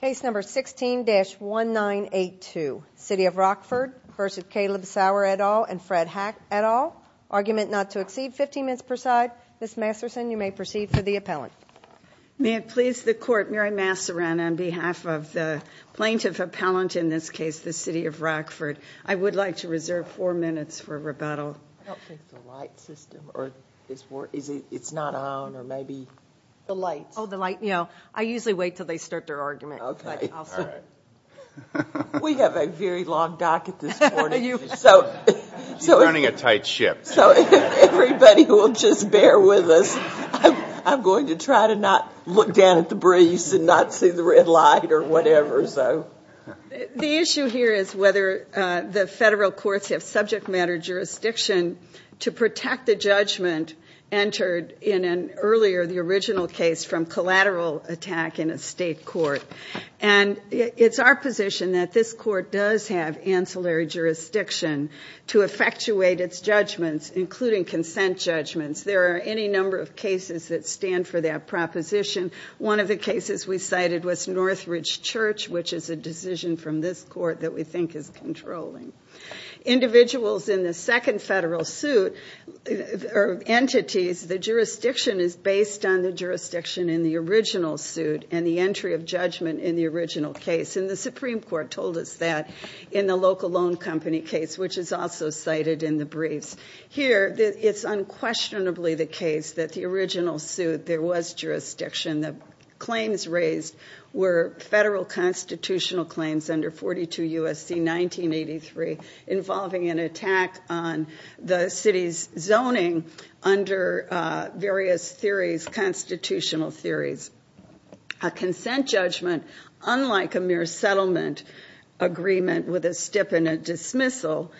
Case number 16-1982, City of Rockford v. Caleb Sower et al. and Fred Hack et al. Argument not to exceed 15 minutes per side. Ms. Masterson, you may proceed for the appellant. May it please the court, Mary Massaran on behalf of the plaintiff appellant in this case, the City of Rockford, I would like to reserve four minutes for rebuttal. I don't think it's the light system, or it's not on, or maybe the lights. Oh, the light, you know, I usually wait till they start their argument. Okay. We have a very long docket this morning. She's running a tight ship. So everybody will just bear with us. I'm going to try to not look down at the breeze and not see the red light or whatever, so. The issue here is whether the federal courts have subject matter jurisdiction to protect the judgment entered in an earlier, the original case, from collateral attack in a state court. And it's our position that this court does have ancillary jurisdiction to effectuate its judgments, including consent judgments. There are any number of cases that stand for that proposition. One of the cases we cited was Northridge Church, which is a decision from this court that we think is controlling. Individuals in the second federal suit, or entities, the jurisdiction is based on the jurisdiction in the original suit and the entry of judgment in the original case. And the Supreme Court told us that in the local loan company case, which is also cited in the briefs. Here, it's unquestionably the case that the constitutional claims under 42 U.S.C. 1983, involving an attack on the city's zoning under various theories, constitutional theories. A consent judgment, unlike a mere settlement agreement with a stipend dismissal,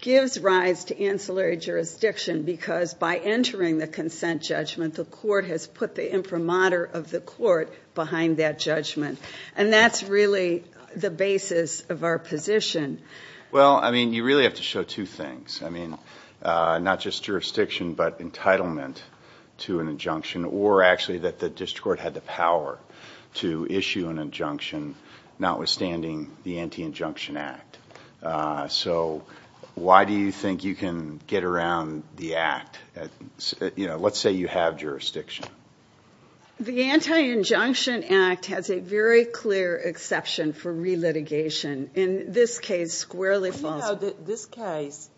gives rise to ancillary jurisdiction because by entering the consent judgment, the And that's really the basis of our position. Well, I mean, you really have to show two things. I mean, not just jurisdiction, but entitlement to an injunction, or actually that the district court had the power to issue an injunction, notwithstanding the Anti-Injunction Act. So, why do you think you can get around the act? Let's say you have jurisdiction. The Anti-Injunction Act has a very clear exception for re-litigation. In this case, squarely false. You know that this case,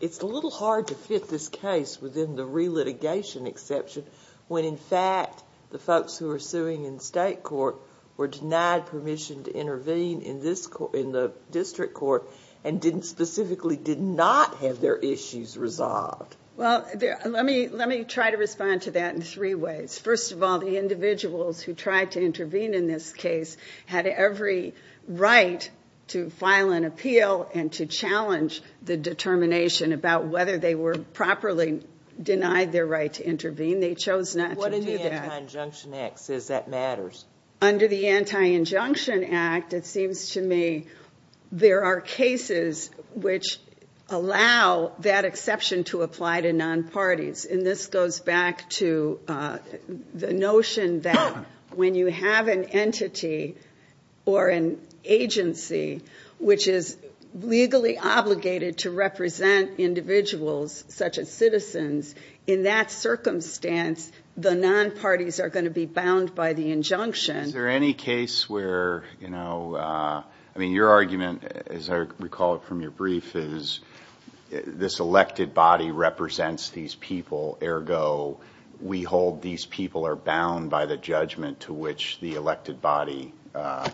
it's a little hard to fit this case within the re-litigation exception, when in fact, the folks who are suing in state court were denied permission to intervene in this court, in the district court, and didn't specifically, did not have their issues resolved. Well, let me try to respond to that in three ways. First of all, the individuals who tried to intervene in this case had every right to file an appeal and to challenge the determination about whether they were properly denied their right to intervene. They chose not to do that. What in the Anti-Injunction Act says that matters? Under the Anti-Injunction Act, it seems to me, there are cases which allow that exception to apply to non-parties. And this goes back to the notion that when you have an entity or an agency which is legally obligated to represent individuals, such as citizens, in that circumstance, the non-parties are going to be bound by the injunction. Is there any case where, you know, I mean, your argument, as I recall it from your brief, is this elected body represents these people, ergo, we hold these people are bound by the judgment to which the elected body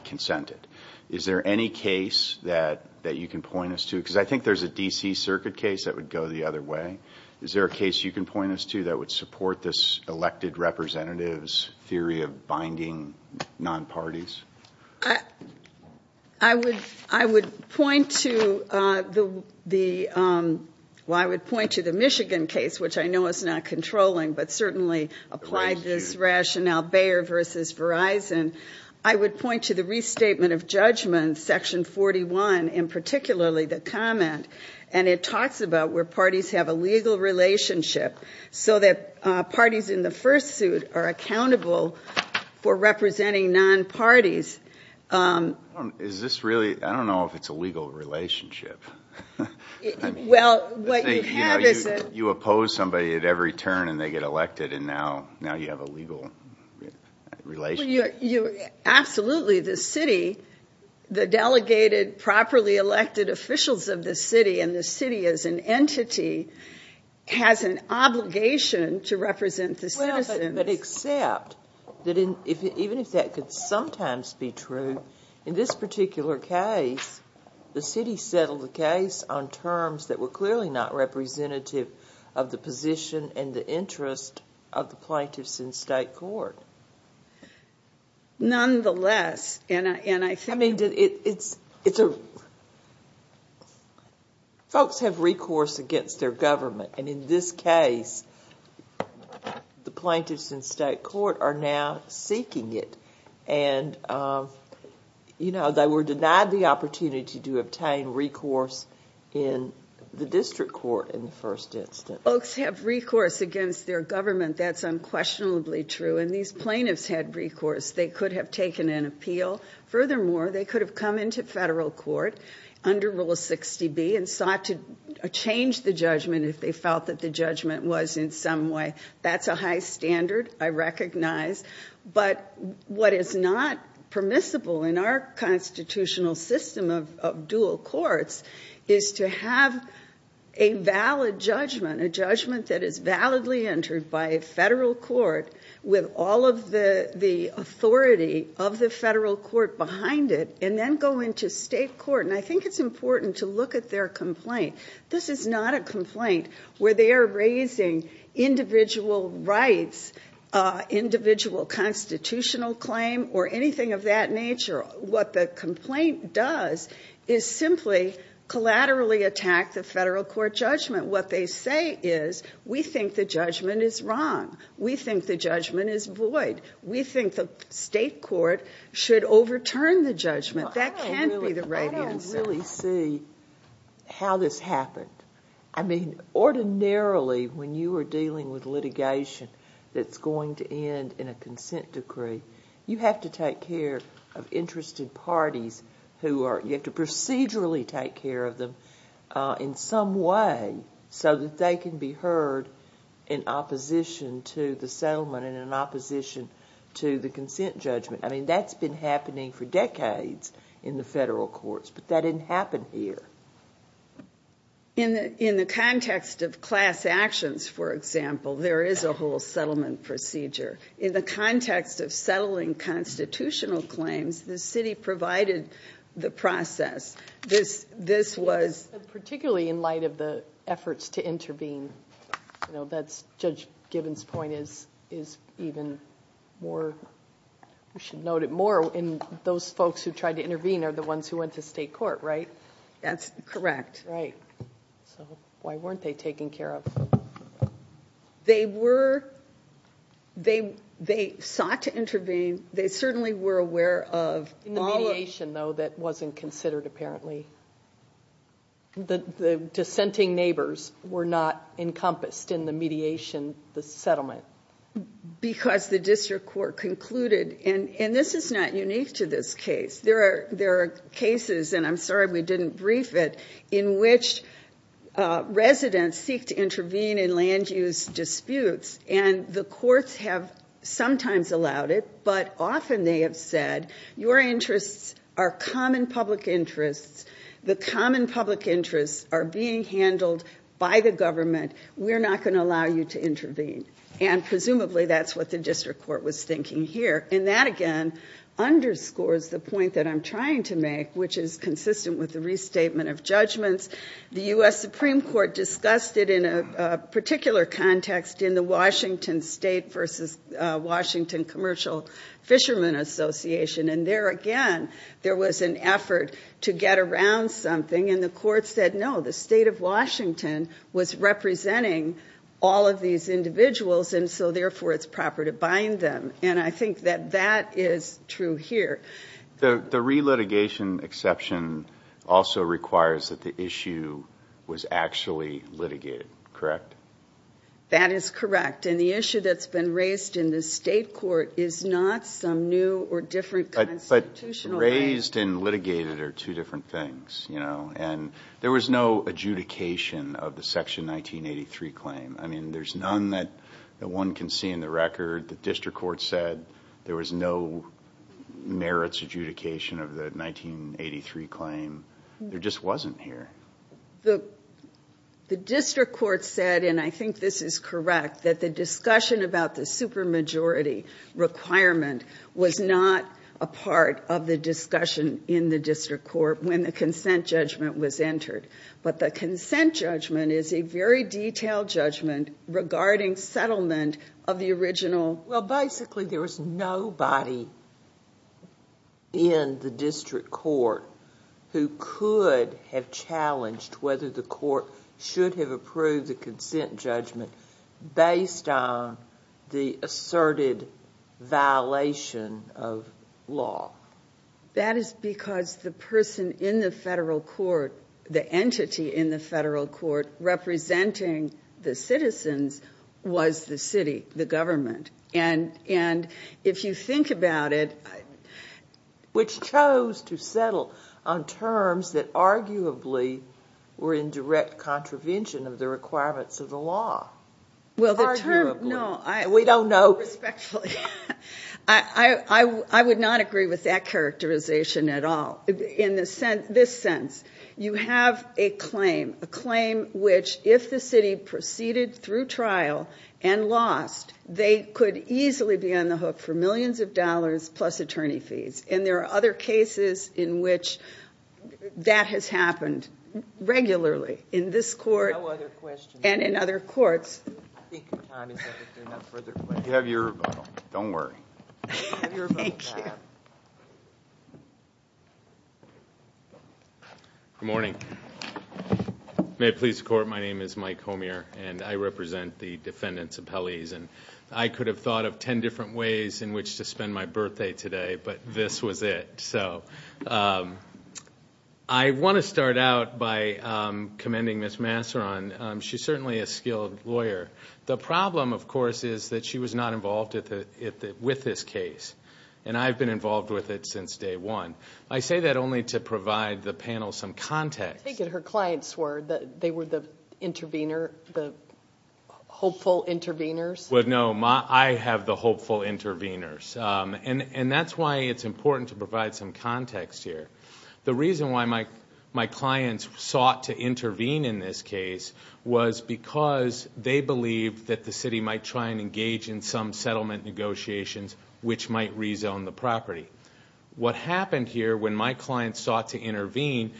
consented. Is there any case that you can point us to? Because I think there's a DC Circuit case that would go the other way. Is there a case you can point us to that would support this elected representatives theory of binding non-parties? I would point to the Michigan case, which I know is not controlling, but certainly applied this rationale, Bayer versus Verizon. I would point to the Restatement of Judgment, Section 41, and particularly the comment. And it talks about where parties have a legal relationship so that parties in the first suit are accountable for representing non-parties. Is this really, I don't know if it's a legal relationship. Well, what you have is a... You oppose somebody at every turn and they get elected and now you have a legal relationship. Absolutely, the city, the delegated, properly elected officials of the city, and the citizens. But except that even if that could sometimes be true, in this particular case, the city settled the case on terms that were clearly not representative of the position and the interest of the plaintiffs in state court. Nonetheless, and I think... I mean, it's a... folks have recourse against their government, and in this case, the plaintiffs in state court are now seeking it, and they were denied the opportunity to obtain recourse in the district court in the first instance. Folks have recourse against their government, that's unquestionably true, and these plaintiffs had recourse. They could have taken an appeal. Furthermore, they could have come into federal court under Rule 60B and sought to change the judgment was in some way. That's a high standard, I recognize, but what is not permissible in our constitutional system of dual courts is to have a valid judgment, a judgment that is validly entered by a federal court with all of the authority of the federal court behind it, and then go into state court. And I think it's important to look at their complaint. This is not a complaint where they are raising individual rights, individual constitutional claim, or anything of that nature. What the complaint does is simply collaterally attack the federal court judgment. What they say is, we think the judgment is wrong. We think the judgment is void. We think the state court should overturn the judgment. That can't be the right answer. I don't really see how this happened. I mean, ordinarily, when you are dealing with litigation that's going to end in a consent decree, you have to take care of interested parties who are, you have to procedurally take care of them in some way so that they can be heard in opposition to the settlement and in opposition to the consent judgment. I mean, that's been happening for decades in the federal courts, but that didn't happen here. In the context of class actions, for example, there is a whole settlement procedure. In the context of settling constitutional claims, the city provided the process. This was... Particularly in light of the efforts to intervene, you know, that's Judge Gibbons' point is even more, we should note it more, in those folks who tried to intervene are the ones who went to state court, right? That's correct. Right. Why weren't they taken care of? They were, they sought to intervene. They certainly were aware of... In the mediation, though, that wasn't considered, apparently. The dissenting neighbors were not encompassed in the mediation, the settlement. Because the district court concluded, and this is not unique to this case, there are cases, and I'm sorry we didn't brief it, in which residents seek to intervene in land use disputes, and the courts have sometimes allowed it, but often they have said, your interests are common public interests. The common public interests are being handled by the government. We're not going to allow you to intervene. And presumably that's what the district court was thinking here. And that, again, underscores the point that I'm trying to make, which is consistent with the restatement of judgments. The U.S. Supreme Court discussed it in a particular context in the Washington State versus Washington Commercial Fishermen Association, and there, again, there was an effort to get around something, and the court said, no, the state of Washington was representing all of these individuals, and so therefore it's proper to bind them. And I think that that is true here. The relitigation exception also requires that the issue was actually litigated, correct? That is correct, and the issue that's been raised in the state court is not some new or different constitutional... Raised and litigated are two different things, you know, and there was no adjudication of the Section 1983 claim. I mean, there's none that one can see in the record. The district court said there was no merits adjudication of the 1983 claim. There just wasn't here. The district court said, and I think this is correct, that the discussion about the supermajority requirement was not a part of the discussion in the district court when the consent judgment was entered. But the consent judgment is a very regarding settlement of the original... Well, basically, there was nobody in the district court who could have challenged whether the court should have approved the consent judgment based on the asserted violation of law. That is because the person in the federal court, the entity in the federal court representing the citizens, was the city, the government. And if you think about it... Which chose to settle on terms that arguably were in direct contravention of the requirements of the law. Well, the term... No, we don't know... Respectfully, I would not agree with that characterization at all. In the this sense, you have a claim. A claim which, if the city proceeded through trial and lost, they could easily be on the hook for millions of dollars plus attorney fees. And there are other cases in which that has happened regularly in this court and in other courts. Good morning. May it please the court, my name is Mike Homier, and I represent the defendants' appellees. And I could have thought of ten different ways in which to spend my birthday today, but this was it. So I want to start out by commending Ms. Masseron. She's certainly a skilled lawyer. The problem, of course, is that she was not involved with this case. And I've been involved with it since day one. I say that only to provide the panel some context. I take it her clients were. They were the intervener, the hopeful interveners? Well, no. I have the hopeful interveners. And that's why it's important to my clients sought to intervene in this case was because they believed that the city might try and engage in some settlement negotiations which might rezone the property. What happened here when my clients sought to intervene,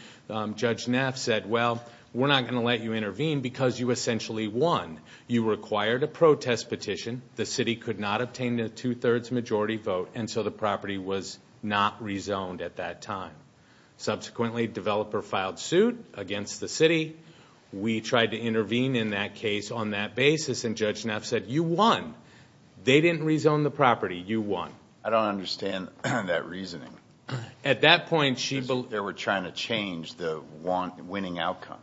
Judge Neff said, well, we're not going to let you intervene because you essentially won. You required a protest petition. The city could not obtain a two-thirds majority vote, and so the property was not rezoned at that time. Subsequently, the developer filed suit against the city. We tried to intervene in that case on that basis, and Judge Neff said, you won. They didn't rezone the property. You won. I don't understand that reasoning. At that point, she... They were trying to change the winning outcome.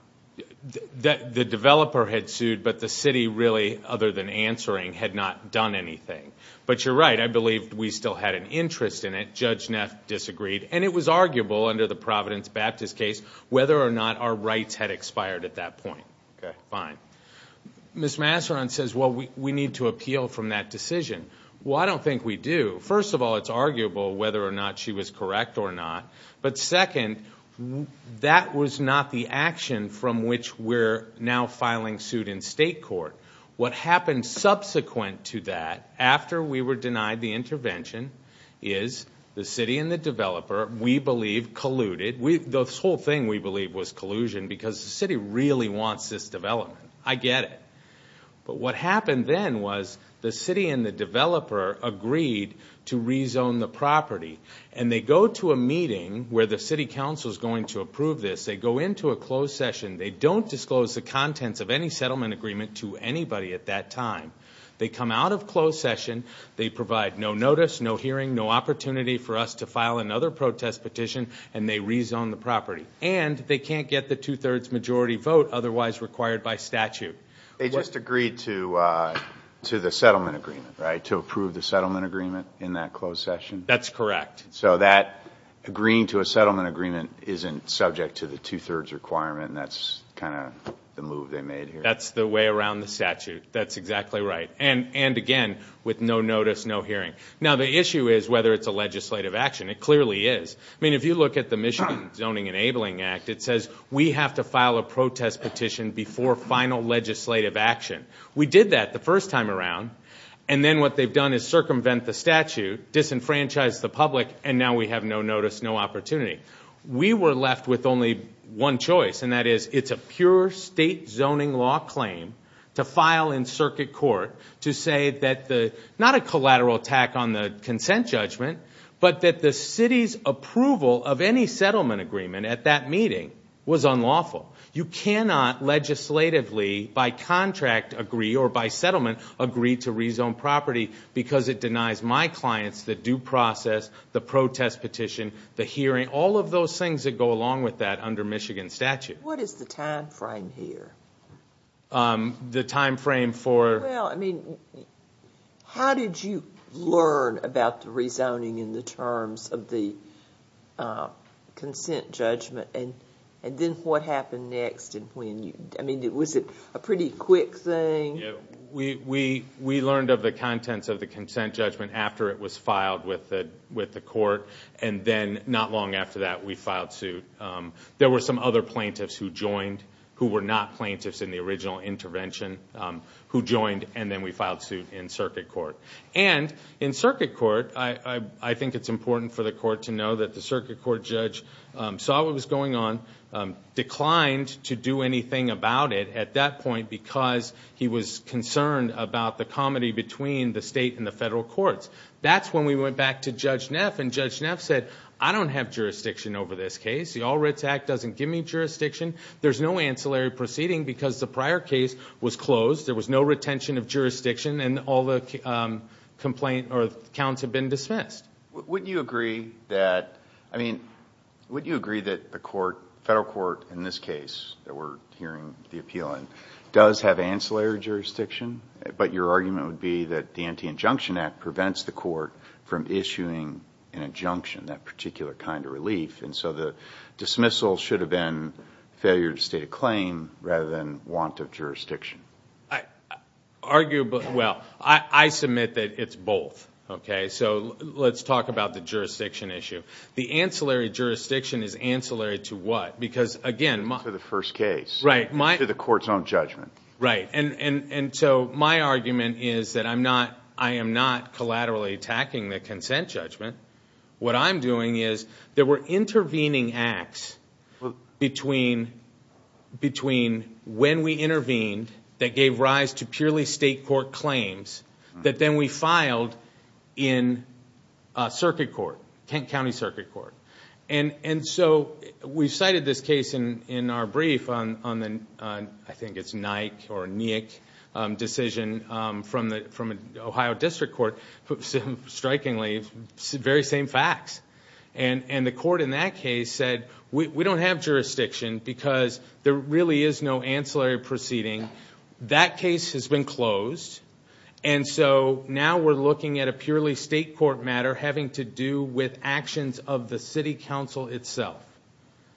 The developer had sued, but the city really, other than answering, had not done anything. But you're right. I believe we still had an interest in it. Judge Neff disagreed, and it was arguable under the Providence Baptist case whether or not our rights had expired at that point. Ms. Masseron says, well, we need to appeal from that decision. Well, I don't think we do. First of all, it's arguable whether or not she was correct or not, but second, that was not the action from which we're now filing suit in state court. What happened subsequent to that, after we were The city and the developer, we believe, colluded. The whole thing, we believe, was collusion because the city really wants this development. I get it. But what happened then was the city and the developer agreed to rezone the property, and they go to a meeting where the city council is going to approve this. They go into a closed session. They don't disclose the contents of any settlement agreement to anybody at that time. They come out of closed session. They provide no notice, no hearing, no opportunity for us to file another protest petition, and they rezone the property. And they can't get the two-thirds majority vote otherwise required by statute. They just agreed to the settlement agreement, right, to approve the settlement agreement in that closed session? That's correct. So that agreeing to a settlement agreement isn't subject to the two-thirds requirement, and that's kind of the move they made here? That's the way around the statute. That's exactly right. And again, with no notice, no hearing. Now, the issue is whether it's a legislative action. It clearly is. I mean, if you look at the Michigan Zoning Enabling Act, it says we have to file a protest petition before final legislative action. We did that the first time around, and then what they've done is circumvent the statute, disenfranchise the public, and now we have no notice, no opportunity. We were left with only one choice, and that is it's a pure state zoning law claim to file in circuit court to say that the, not a collateral attack on the consent judgment, but that the city's approval of any settlement agreement at that meeting was unlawful. You cannot legislatively by contract agree or by settlement agree to rezone property because it denies my clients the due process, the protest petition, the hearing, all of those things that go along with that under Michigan statute. What is the time frame here? The time frame for... Well, I mean, how did you learn about the rezoning in the terms of the consent judgment, and then what happened next and when you... I mean, was it a pretty quick thing? We learned of the contents of the consent judgment after it was filed with the court, and then not long after that, we filed suit. There were some other plaintiffs who joined who were not plaintiffs in the original intervention who joined, and then we filed suit in circuit court. In circuit court, I think it's important for the court to know that the circuit court judge saw what was going on, declined to do anything about it at that point because he was concerned about the comedy between the state and the federal courts. That's when we went back to Judge Neff, and Judge Neff said, I don't have jurisdiction over this case. The All Writs Act doesn't give me jurisdiction. There's no ancillary proceeding because the prior case was closed. There was no retention of jurisdiction, and all the counts have been dismissed. Would you agree that... I mean, would you agree that the federal court in this case that we're hearing the appeal in does have ancillary jurisdiction, but your argument would be that the Anti-Injunction Act prevents the court from getting a particular kind of relief, and so the dismissal should have been failure to state a claim rather than want of jurisdiction. Well, I submit that it's both. Let's talk about the jurisdiction issue. The ancillary jurisdiction is ancillary to what? Because again... To the first case. To the court's own judgment. My argument is that I am not collaterally attacking the consent judgment. What I'm doing is that we're intervening acts between when we intervened that gave rise to purely state court claims that then we filed in circuit court, Kent County Circuit Court. We've cited this case in our brief on the... I think it's Nyck or the very same facts, and the court in that case said, we don't have jurisdiction because there really is no ancillary proceeding. That case has been closed, and so now we're looking at a purely state court matter having to do with actions of the city council itself.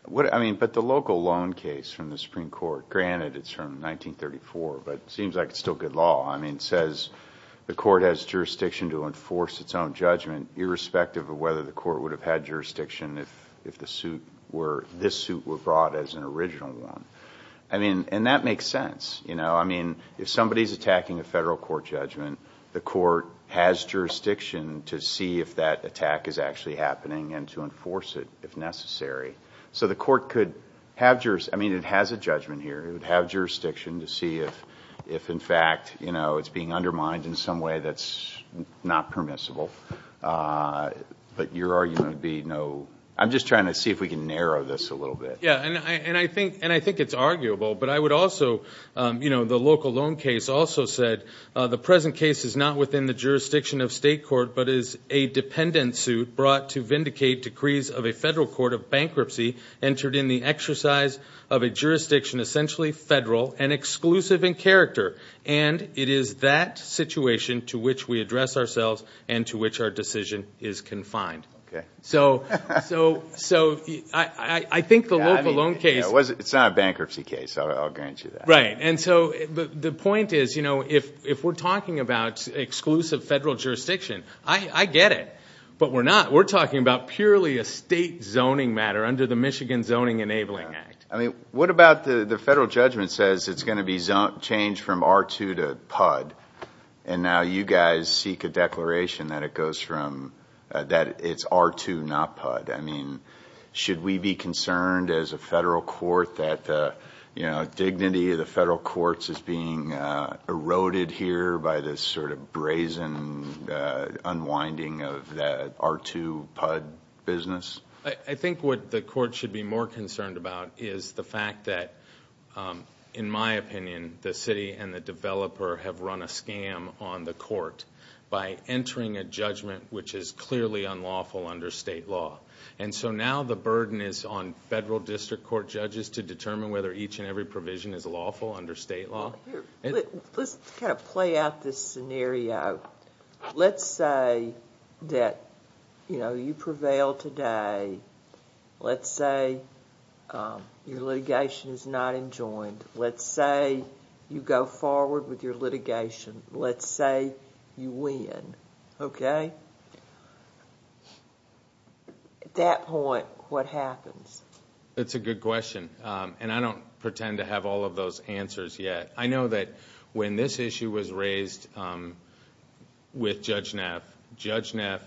The local loan case from the Supreme Court, granted it's from 1934, but it seems like it's still good law. I mean, it says the court has jurisdiction to enforce its own judgment irrespective of whether the court would have had jurisdiction if this suit were brought as an original one. And that makes sense. I mean, if somebody's attacking a federal court judgment, the court has jurisdiction to see if that attack is actually happening and to enforce it if necessary. So the court could have... I mean, it has a judgment here. It would have jurisdiction to see if in fact it's being undermined in some way that's not permissible, but your argument would be no... I'm just trying to see if we can narrow this a little bit. Yeah, and I think it's arguable, but I would also... the local loan case also said, the present case is not within the jurisdiction of state court, but is a dependent suit brought to vindicate decrees of a federal court of bankruptcy entered in the exercise of a jurisdiction essentially federal and exclusive in character, and it is that situation to which we address ourselves and to which our decision is confined. So I think the local loan case... It's not a bankruptcy case, I'll grant you that. Right. And so the point is, if we're talking about exclusive federal jurisdiction, I get it, but we're not. We're talking about purely a state zoning matter under the Michigan Zoning Enabling Act. I mean, what about the federal judgment says it's going to be changed from R2 to PUD, and now you guys seek a declaration that it goes from... that it's R2, not PUD. I mean, should we be concerned as a federal court that dignity of the federal courts is being eroded here by this sort of brazen unwinding of that R2, PUD business? I think what the court should be more concerned about is the fact that, in my opinion, the by entering a judgment which is clearly unlawful under state law. And so now the burden is on federal district court judges to determine whether each and every provision is lawful under state law. Let's kind of play out this scenario. Let's say that you prevail today. Let's say your litigation is not enjoined. Let's say you go forward with your litigation. Let's say you win, okay? At that point, what happens? It's a good question. And I don't pretend to have all of those answers yet. I know that when this issue was raised with Judge Neff, Judge Neff,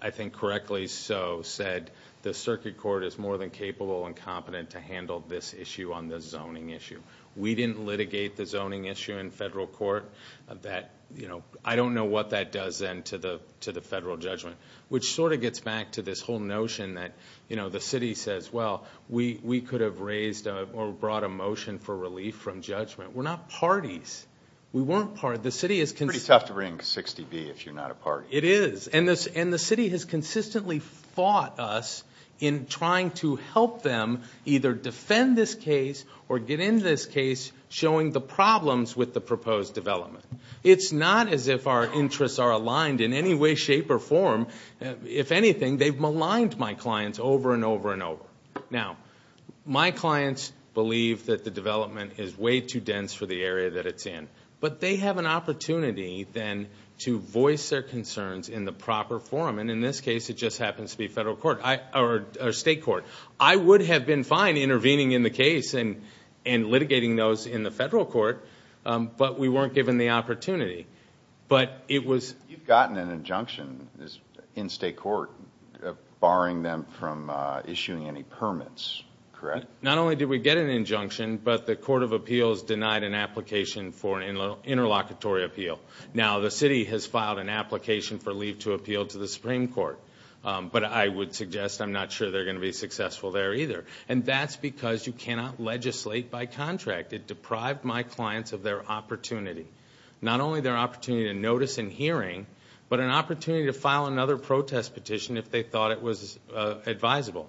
I think correctly so said, the circuit court is more than capable and competent to handle this issue on the zoning issue. We didn't litigate the zoning issue in federal court. I don't know what that does then to the federal judgment, which sort of gets back to this whole notion that the city says, well, we could have raised or brought a motion for relief from judgment. We're not parties. We weren't parties. The city is... It's pretty tough to bring 60B if you're not a party. It is. And the city has consistently fought us in trying to help them either defend this case or get in this case showing the problems with the proposed development. It's not as if our interests are aligned in any way, shape, or form. If anything, they've maligned my clients over and over and over. Now, my clients believe that the development is way too dense for the area that it's in. But they have an opportunity then to voice their concerns in the proper forum. And in this case, it just happens to be federal court or state court. I would have been fine intervening in the case and litigating those in the federal court, but we weren't given the opportunity. But it was... You've gotten an injunction in state court barring them from issuing any permits, correct? Not only did we get an injunction, but the court of appeals denied an application for an interlocutory appeal. Now, the city has filed an application for leave to appeal to the Supreme Court. But I would suggest I'm not sure they're going to be successful there either. And that's because you cannot legislate by contract. It deprived my clients of their opportunity. Not only their opportunity to notice and hearing, but an opportunity to file another protest petition if they thought it was advisable.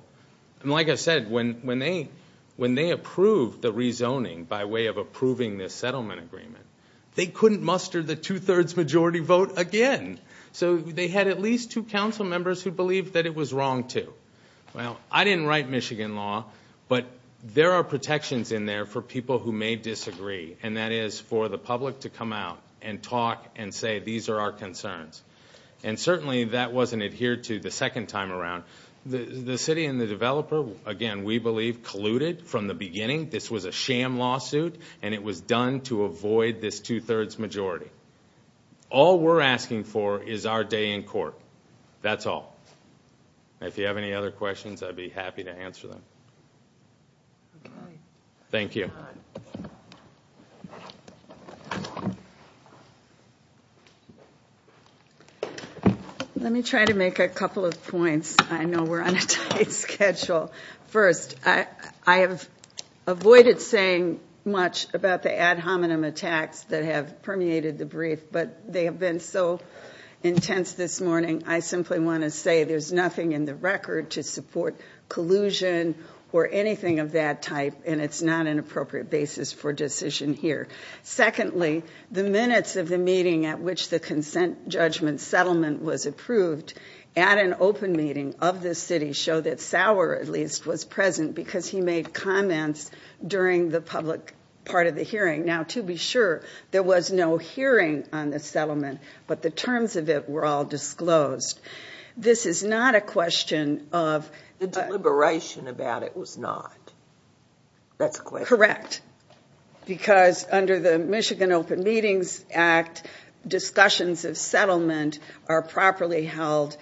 Like I said, when they approved the rezoning by way of approving this settlement agreement, they couldn't muster the two-thirds majority vote again. So they had at least two council members who believed that it was wrong to. Well, I didn't write Michigan law, but there are protections in there for people who may disagree, and that is for the public to come out and talk and say, these are our concerns. And certainly that wasn't adhered to the second time around. The city and the developer, again, we believe colluded from the beginning. This was a sham lawsuit, and it was done to avoid this two-thirds majority. All we're asking for is our day in court. That's all. If you have any other questions, I'd be happy to answer them. Thank you. Let me try to make a couple of points. I know we're on a tight schedule. First, I have avoided saying much about the ad hominem attacks that have permeated the brief, but they have been so intense this morning, I simply want to say there's nothing in the record to support collusion or anything of that type, and it's not an appropriate basis for decision here. Secondly, the minutes of the meeting at which the consent judgment settlement was approved at an open meeting of the city show that Sauer, at least, was present because he made comments during the public part of the hearing. Now, to be sure, there was no hearing on the settlement, but the terms of it were all disclosed. This is not a question of... The deliberation about it was not. That's a question. Correct. Correct, because under the Michigan Open Meetings Act, discussions of settlement are properly held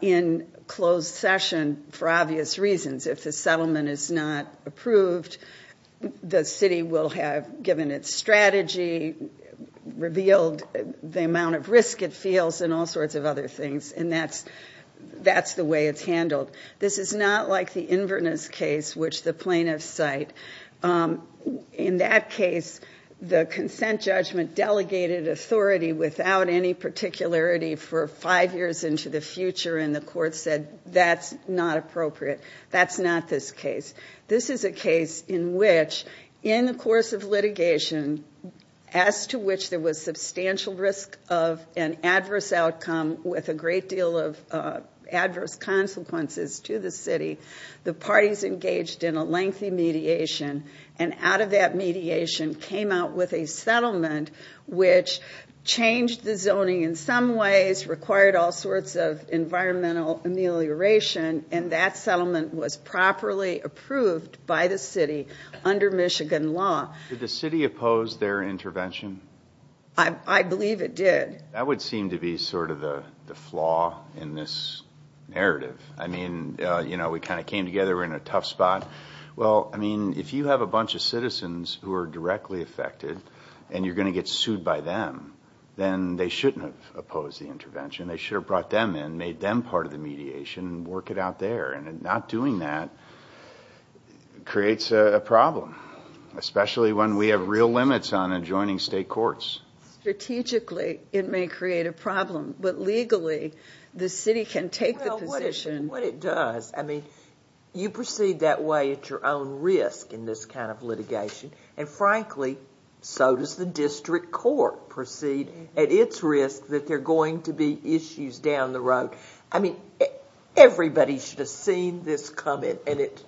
in closed session for obvious reasons. If the settlement is not approved, the city will have given its strategy, revealed the amount of risk it feels, and all sorts of other things, and that's the way it's handled. This is not like the Inverness case, which the plaintiffs cite. In that case, the consent judgment delegated authority without any particularity for five years into the future, and the court said, that's not appropriate. That's not this case. This is a case in which, in the course of litigation, as to which there was substantial risk of an adverse outcome with a great deal of adverse consequences to the city, the parties engaged in a lengthy mediation, and out of that mediation came out with a settlement which changed the zoning in some ways, required all sorts of environmental amelioration, and that settlement was properly approved by the city under Michigan law. Did the city oppose their intervention? I believe it did. That would seem to be sort of the flaw in this narrative. I mean, you know, we kind of came together, we're in a tough spot. Well, I mean, if you have a bunch of citizens who are directly affected, and you're going to get sued by them, then they shouldn't have opposed the intervention. They should have brought them in, made them part of the mediation, and work it out there, and not doing that creates a problem, especially when we have real limits on adjoining state courts. Strategically, it may create a problem, but legally, the city can take the position... Well, what it does, I mean, you proceed that way at your own risk in this kind of litigation, and frankly, so does the district court proceed at its risk that there are going to be issues down the road. I mean, everybody should have seen this coming, and it,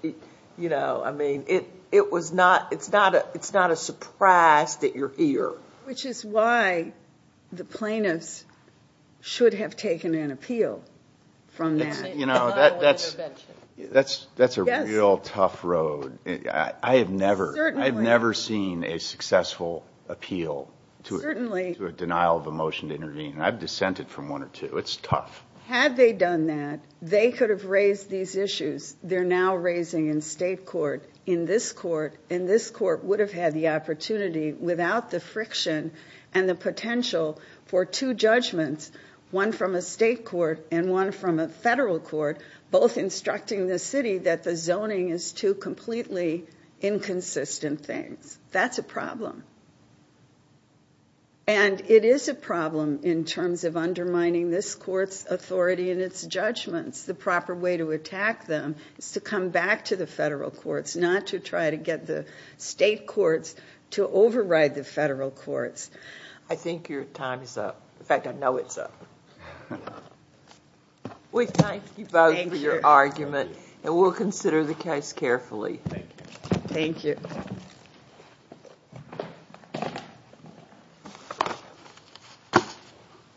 you know, I mean, it was not... it's not a surprise that you're here. Which is why the plaintiffs should have taken an appeal from that. You know, that's a real tough road. I have never... Certainly. I've never seen a successful appeal to a denial of a motion to intervene, and I've dissented from one or two. It's tough. Had they done that, they could have raised these issues they're now raising in state court, and this court would have had the opportunity without the friction and the potential for two judgments, one from a state court and one from a federal court, both instructing the city that the zoning is two completely inconsistent things. That's a problem. And it is a problem in terms of undermining this court's authority and its judgments. The proper way to attack them is to come back to the federal courts, not to try to get the state courts to override the federal courts. I think your time is up. In fact, I know it's up. We thank you both for your argument, and we'll consider the case carefully. Thank you.